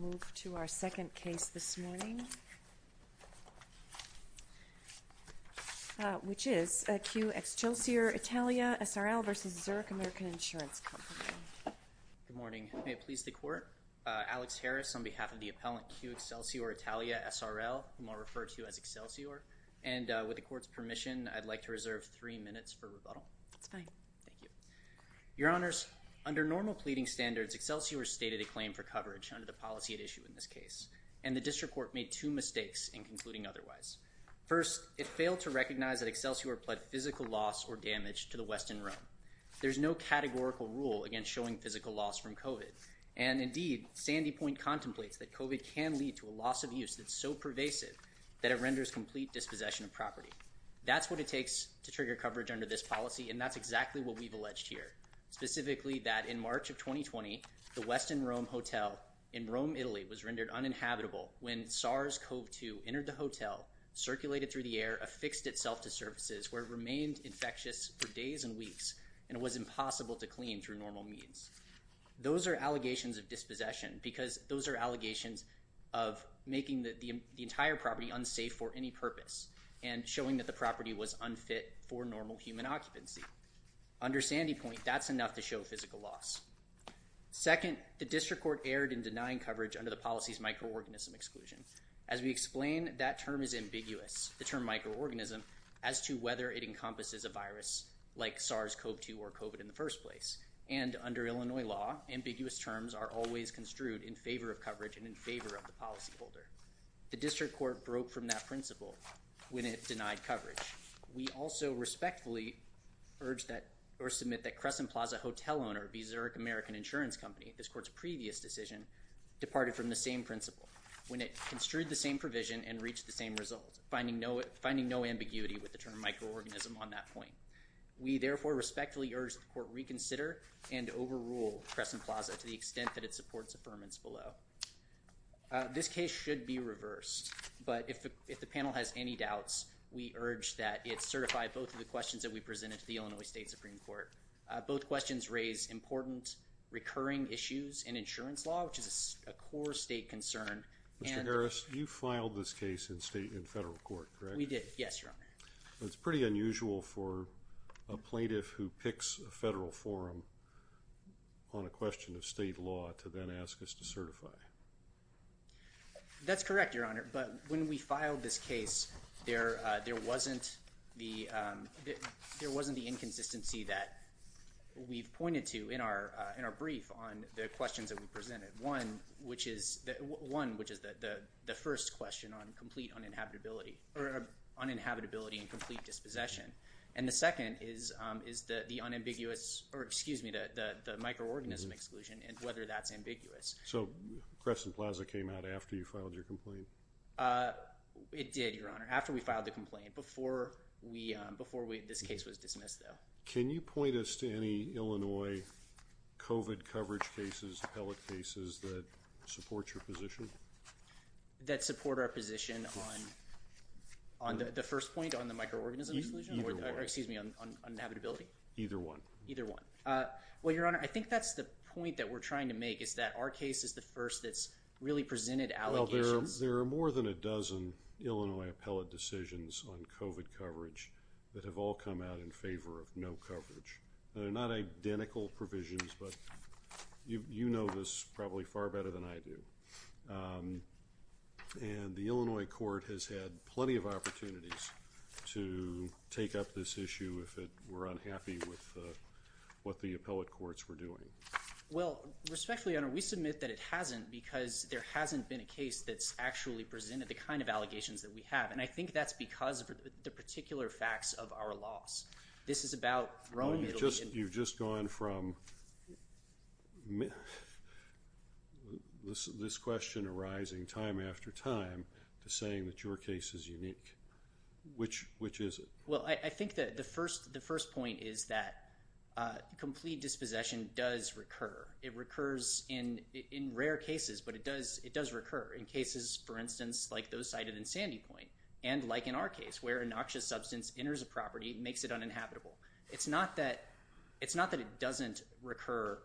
Good morning. May it please the Court, Alex Harris on behalf of the appellant Q Excelsior Italia SRL, whom I'll refer to as Excelsior, and with the Court's permission, I'd like to reserve three minutes for rebuttal. That's fine. Thank you. Your Honors, under normal pleading standards, Excelsior stated a claim for coverage under the policy at issue in this case, and the District Court made two mistakes in concluding otherwise. First, it failed to recognize that Excelsior pled physical loss or damage to the Westin Rome. There's no categorical rule against showing physical loss from COVID, and indeed, Sandy Point contemplates that COVID can lead to a loss of use that's so pervasive that it renders complete dispossession of property. That's what it takes to trigger coverage under this policy, and that's exactly what we've in Rome, Italy, was rendered uninhabitable when SARS-CoV-2 entered the hotel, circulated through the air, affixed itself to surfaces where it remained infectious for days and weeks, and it was impossible to clean through normal means. Those are allegations of dispossession because those are allegations of making the entire property unsafe for any purpose and showing that the property was unfit for normal human occupancy. Under Sandy Point, that's enough to show physical loss. Second, the District Court erred in denying coverage under the policy's microorganism exclusion. As we explained, that term is ambiguous, the term microorganism, as to whether it encompasses a virus like SARS-CoV-2 or COVID in the first place, and under Illinois law, ambiguous terms are always construed in favor of coverage and in favor of the policyholder. The District Court broke from that principle when it denied coverage. We also respectfully urge that or submit that Crescent Plaza Hotel Owner v. Zurich American Insurance Company, this Court's previous decision, departed from the same principle when it construed the same provision and reached the same result, finding no ambiguity with the term microorganism on that point. We therefore respectfully urge that the Court reconsider and overrule Crescent Plaza to the extent that it supports affirmance below. This case should be reversed, but if the panel has any doubts, we urge that it certify both of the questions that we presented to the Illinois State Supreme Court. Both questions raise important recurring issues in insurance law, which is a core state concern, and- Mr. Harris, you filed this case in state and federal court, correct? We did. Yes, Your Honor. It's pretty unusual for a plaintiff who picks a federal forum on a question of state law to then ask us to certify. That's correct, Your Honor, but when we filed this case, there wasn't the inconsistency that we've pointed to in our brief on the questions that we presented. One, which is the first question on complete uninhabitability, or uninhabitability and complete dispossession, and the second is the microorganism exclusion and whether that's ambiguous. So, Crescent Plaza came out after you filed your complaint? It did, Your Honor. After we filed the complaint. Before this case was dismissed, though. Can you point us to any Illinois COVID coverage cases, appellate cases that support your position? That support our position on the first point, on the microorganism exclusion? Either one. Excuse me, on uninhabitability? Either one. Either one. Well, Your Honor, I think that's the point that we're trying to make is that our case is the first that's really presented allegations. Well, there are more than a dozen Illinois appellate decisions on COVID coverage that have all come out in favor of no coverage. They're not identical provisions, but you know this probably far better than I do, and the Illinois court has had plenty of opportunities to take up this issue if it were unhappy with what the appellate courts were doing. Well, respectfully, Your Honor, we submit that it hasn't because there hasn't been a case that's actually presented the kind of allegations that we have, and I think that's because of the particular facts of our laws. This is about wrongly... You've just gone from this question arising time after time to saying that your case is unique. Which is it? Well, I think that the first point is that complete dispossession does recur. It recurs in rare cases, but it does recur in cases, for instance, like those cited in Sandy Point, and like in our case, where a noxious substance enters a property and makes it uninhabitable. It's not that it doesn't recur,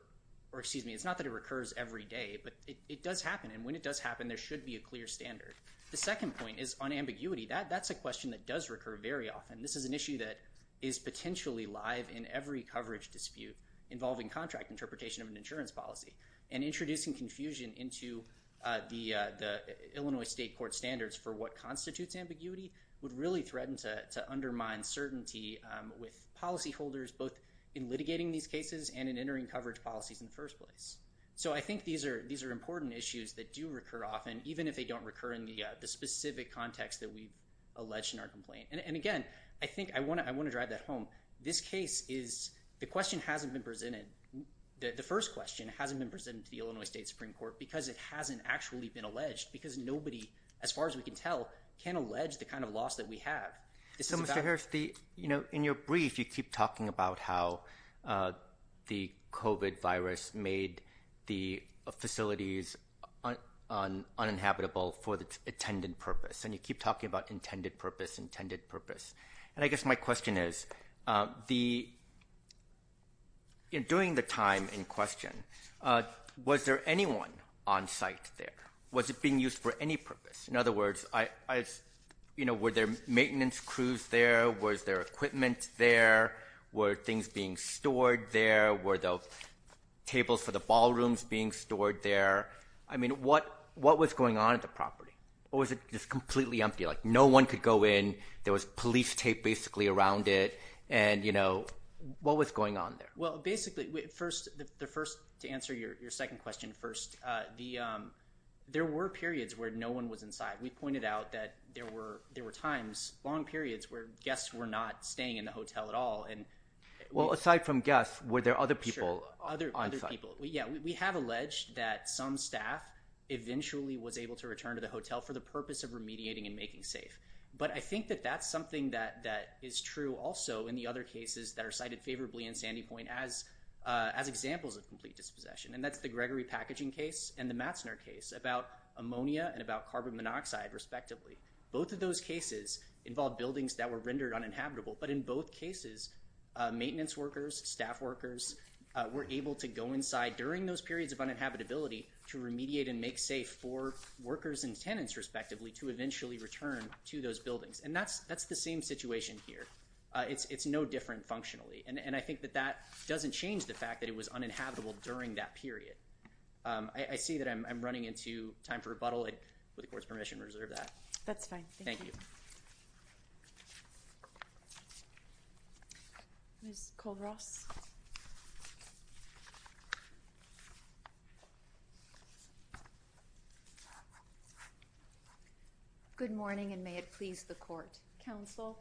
or excuse me, it's not that it recurs every day, but it does happen, and when it does happen, there should be a clear standard. The second point is on ambiguity. That's a question that does recur very often. This is an issue that is potentially live in every coverage dispute involving contract interpretation of an insurance policy, and introducing confusion into the Illinois State Court standards for what constitutes ambiguity would really threaten to undermine certainty with policyholders, both in litigating these cases and in entering coverage policies in the first place. So I think these are important issues that do recur often, even if they don't recur in the specific context that we've alleged in our complaint. And again, I think I want to drive that home. This case is, the question hasn't been presented, the first question hasn't been presented to the Illinois State Supreme Court because it hasn't actually been alleged, because nobody, as far as we can tell, can allege the kind of loss that we have. So Mr. Harris, in your brief, you keep talking about how the COVID virus made the facilities uninhabitable for the intended purpose, and you keep talking about intended purpose, intended purpose. And I guess my question is, during the time in question, was there anyone on site there? Was it being used for any purpose? In other words, were there maintenance crews there, was there equipment there, were things being stored there, were the tables for the ballrooms being stored there? I mean, what was going on at the property, or was it just completely empty, like no one could go in, there was police tape basically around it, and, you know, what was going on there? Well, basically, first, to answer your second question first, there were periods where no one was inside. We pointed out that there were times, long periods, where guests were not staying in the hotel at all. Well, aside from guests, were there other people on site? Sure, other people. Yeah, we have alleged that some staff eventually was able to return to the hotel for the purpose of remediating and making safe. But I think that that's something that is true also in the other cases that are cited favorably in Sandy Point as examples of complete dispossession, and that's the Gregory Packaging case and the Matzner case about ammonia and about carbon monoxide, respectively. Both of those cases involved buildings that were rendered uninhabitable, but in both cases, maintenance workers, staff workers, were able to go inside during those periods of uninhabitability to remediate and make safe for workers and tenants, respectively, to eventually return to those buildings. And that's the same situation here. It's no different functionally. And I think that that doesn't change the fact that it was uninhabitable during that period. I see that I'm running into time for rebuttal. With the Court's permission, reserve that. That's fine. Thank you. Thank you. Ms. Cole-Ross? Good morning, and may it please the Court. Counsel,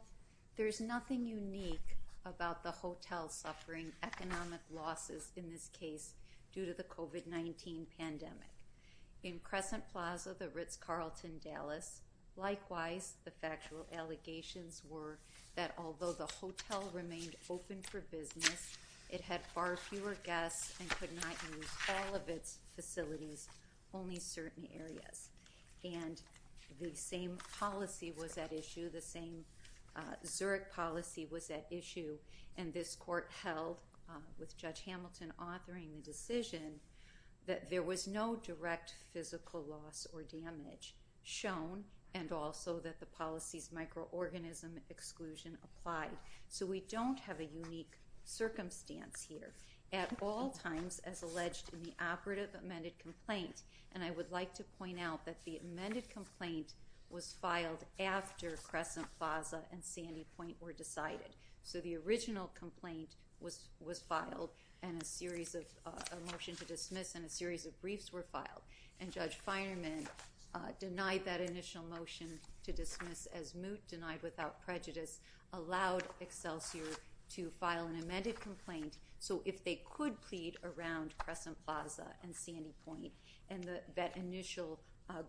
there's nothing unique about the hotel suffering economic losses in this case due to the COVID-19 pandemic. In Crescent Plaza, the Ritz-Carlton, Dallas, likewise, the factual allegations were that although the hotel remained open for business, it had far fewer guests and could not use all of its facilities, only certain areas. And the same policy was at issue, the same Zurich policy was at issue, and this Court held, with Judge Hamilton authoring the decision, that there was no direct physical loss or So we don't have a unique circumstance here. At all times, as alleged in the operative amended complaint, and I would like to point out that the amended complaint was filed after Crescent Plaza and Sandy Point were decided. So the original complaint was filed and a series of, a motion to dismiss and a series of briefs were filed. And Judge Feinerman denied that initial motion to dismiss as moot, denied without prejudice, allowed Excelsior to file an amended complaint. So if they could plead around Crescent Plaza and Sandy Point and that initial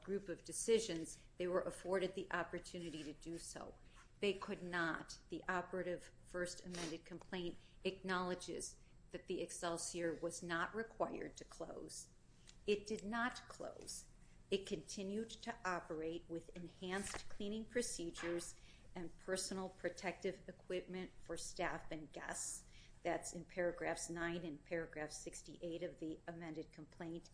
group of decisions, they were afforded the opportunity to do so. They could not. The operative first amended complaint acknowledges that the Excelsior was not required to close. It did not close. It continued to operate with enhanced cleaning procedures and personal protective equipment for staff and guests. That's in paragraphs 9 and paragraph 68 of the amended complaint.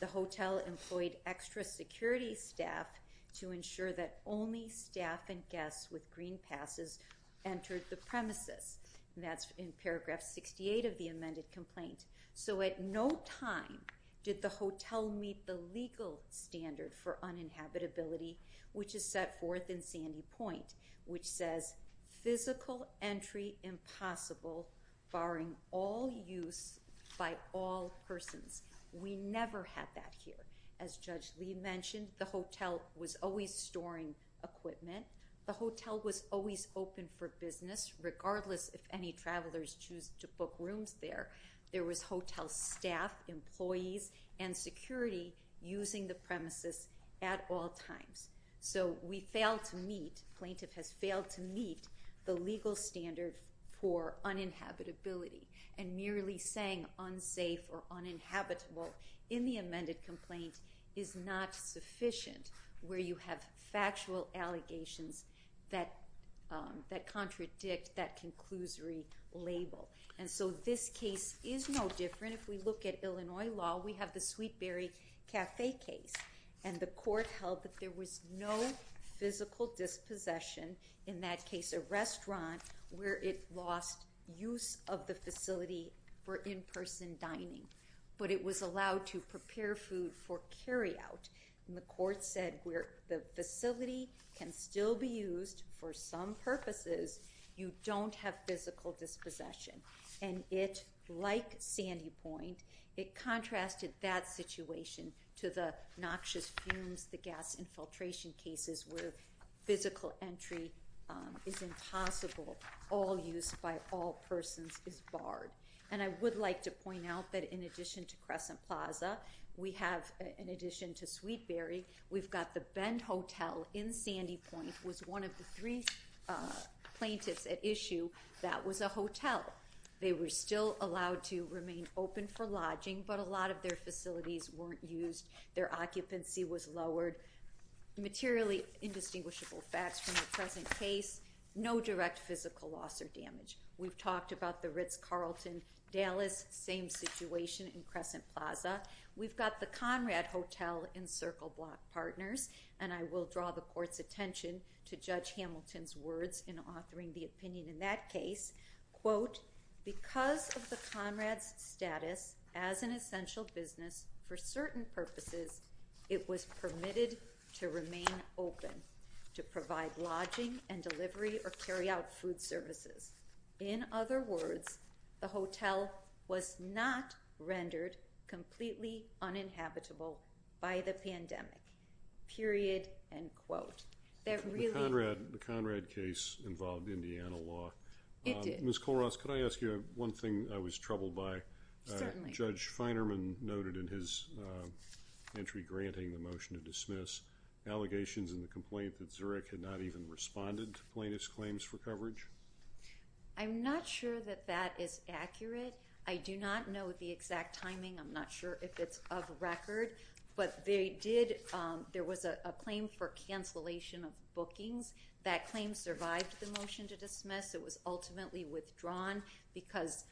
The hotel employed extra security staff to ensure that only staff and guests with green passes entered the premises. That's in paragraph 68 of the amended complaint. So at no time did the hotel meet the legal standard for uninhabitability, which is set forth in Sandy Point, which says physical entry impossible barring all use by all persons. We never had that here. As Judge Lee mentioned, the hotel was always storing equipment. The hotel was always open for business regardless if any travelers choose to book rooms there. There was hotel staff, employees, and security using the premises at all times. So we failed to meet, plaintiff has failed to meet, the legal standard for uninhabitability. And merely saying unsafe or uninhabitable in the amended complaint is not sufficient where you have factual allegations that contradict that conclusory label. And so this case is no different. If we look at Illinois law, we have the Sweetberry Cafe case. And the court held that there was no physical dispossession in that case, a restaurant where it lost use of the facility for in-person dining. But it was allowed to prepare food for carryout. And the court said where the facility can still be used for some purposes, you don't have physical dispossession. And it, like Sandy Point, it contrasted that situation to the noxious fumes, the gas infiltration cases where physical entry is impossible, all use by all persons is barred. And I would like to point out that in addition to Crescent Plaza, we have in addition to that was a hotel. They were still allowed to remain open for lodging, but a lot of their facilities weren't used. Their occupancy was lowered. Materially indistinguishable facts from the present case, no direct physical loss or damage. We've talked about the Ritz-Carlton, Dallas, same situation in Crescent Plaza. We've got the Conrad Hotel in Circle Block Partners. And I will draw the court's attention to Judge Hamilton's words in authoring the opinion in that case, quote, because of the Conrad's status as an essential business, for certain purposes, it was permitted to remain open to provide lodging and delivery or carry out food services. In other words, the hotel was not rendered completely uninhabitable by the pandemic, period, end quote. The Conrad case involved Indiana law. It did. Ms. Colross, could I ask you one thing I was troubled by? Certainly. Judge Feinerman noted in his entry granting the motion to dismiss, allegations in the complaint that Zurich had not even responded to plaintiff's claims for coverage. I'm not sure that that is accurate. I do not know the exact timing. I'm not sure if it's of record. But they did, there was a claim for cancellation of bookings. That claim survived the motion to dismiss. It was ultimately withdrawn because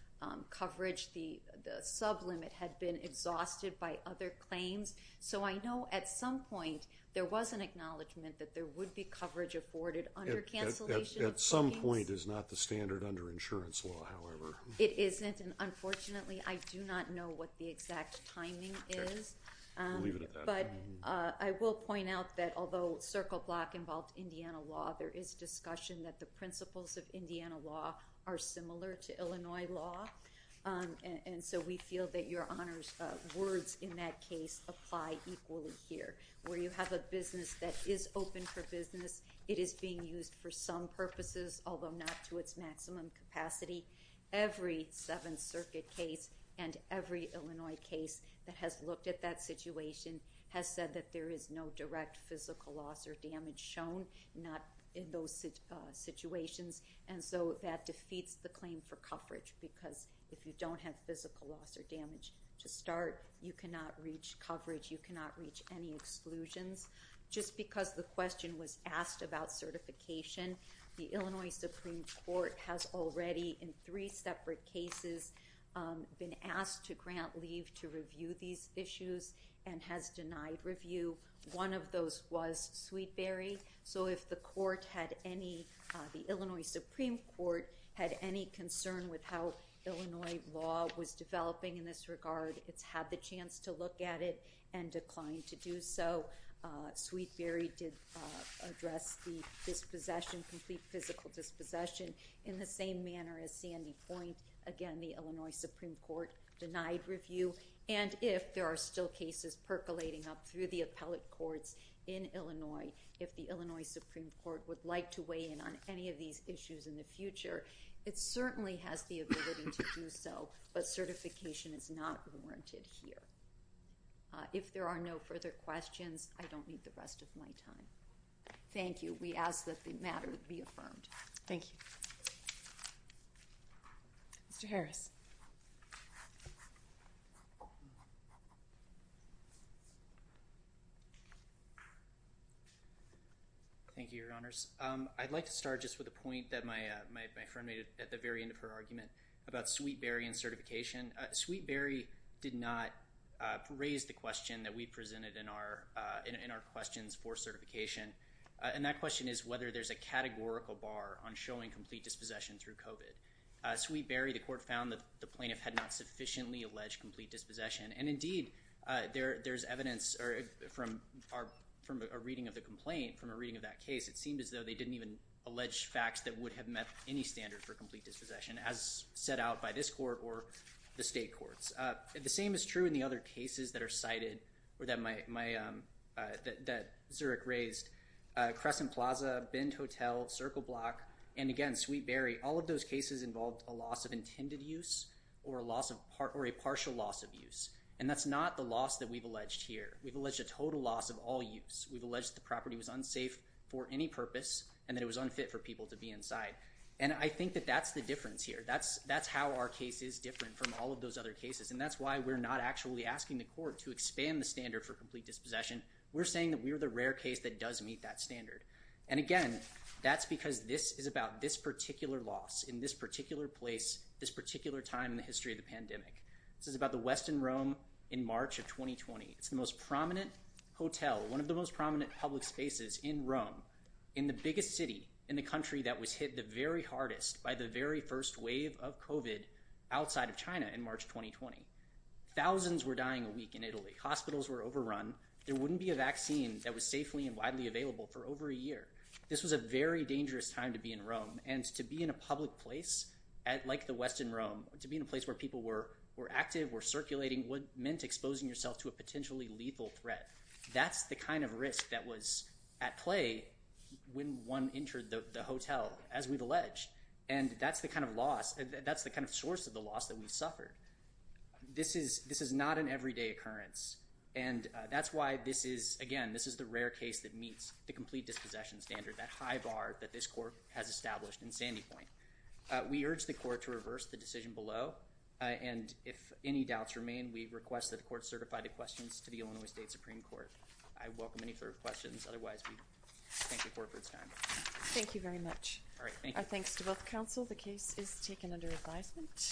coverage, the sublimit had been exhausted by other claims. So I know at some point there was an acknowledgement that there would be coverage afforded under cancellation of bookings. At some point is not the standard under insurance law, however. It isn't. Unfortunately, I do not know what the exact timing is. But I will point out that although Circle Block involved Indiana law, there is discussion that the principles of Indiana law are similar to Illinois law. And so we feel that your words in that case apply equally here, where you have a business that is open for business, it is being used for some purposes, although not to its maximum capacity. Every Seventh Circuit case and every Illinois case that has looked at that situation has said that there is no direct physical loss or damage shown, not in those situations. And so that defeats the claim for coverage, because if you don't have physical loss or damage to start, you cannot reach coverage, you cannot reach any exclusions. Just because the question was asked about certification, the Illinois Supreme Court has already, in three separate cases, been asked to grant leave to review these issues and has denied review. One of those was Sweetberry. So if the court had any, the Illinois Supreme Court, had any concern with how Illinois law was developing in this regard, it's had the chance to look at it and declined to do so. Sweetberry did address the dispossession, complete physical dispossession, in the same manner as Sandy Point. Again, the Illinois Supreme Court denied review. And if there are still cases percolating up through the appellate courts in Illinois, if the Illinois Supreme Court would like to weigh in on any of these issues in the future, it certainly has the ability to do so, but certification is not warranted here. If there are no further questions, I don't need the rest of my time. Thank you. We ask that the matter be affirmed. Thank you. Mr. Harris. Thank you, Your Honors. I'd like to start just with a point that my friend made at the very end of her argument about Sweetberry and certification. Sweetberry did not raise the question that we presented in our questions for certification. And that question is whether there's a categorical bar on showing complete dispossession through COVID. Sweetberry, the court found that the plaintiff had not sufficiently alleged complete dispossession. And indeed, there's evidence from a reading of the complaint, from a reading of that case, it seemed as though they didn't even allege facts that would have met any standard for the state courts. The same is true in the other cases that are cited or that Zurich raised. Crescent Plaza, Bend Hotel, Circle Block, and again, Sweetberry, all of those cases involved a loss of intended use or a partial loss of use. And that's not the loss that we've alleged here. We've alleged a total loss of all use. We've alleged the property was unsafe for any purpose and that it was unfit for people to be inside. And I think that that's the difference here. That's how our case is different from all of those other cases. And that's why we're not actually asking the court to expand the standard for complete dispossession. We're saying that we're the rare case that does meet that standard. And again, that's because this is about this particular loss in this particular place, this particular time in the history of the pandemic. This is about the West in Rome in March of 2020. It's the most prominent hotel, one of the most prominent public spaces in Rome, in the biggest city in the country that was hit the very hardest by the very first wave of COVID outside of China in March 2020. Thousands were dying a week in Italy. Hospitals were overrun. There wouldn't be a vaccine that was safely and widely available for over a year. This was a very dangerous time to be in Rome. And to be in a public place like the West in Rome, to be in a place where people were active, were circulating, meant exposing yourself to a potentially lethal threat. That's the kind of risk that was at play when one entered the hotel, as we've alleged. And that's the kind of loss, that's the kind of source of the loss that we suffered. This is not an everyday occurrence. And that's why this is, again, this is the rare case that meets the complete dispossession standard, that high bar that this court has established in Sandy Point. We urge the court to reverse the decision below. And if any doubts remain, we request that the court certify the questions to the Illinois State Supreme Court. I welcome any further questions. Otherwise, we thank the court for its time. Thank you very much. Our thanks to both counsel. The case is taken under advisement.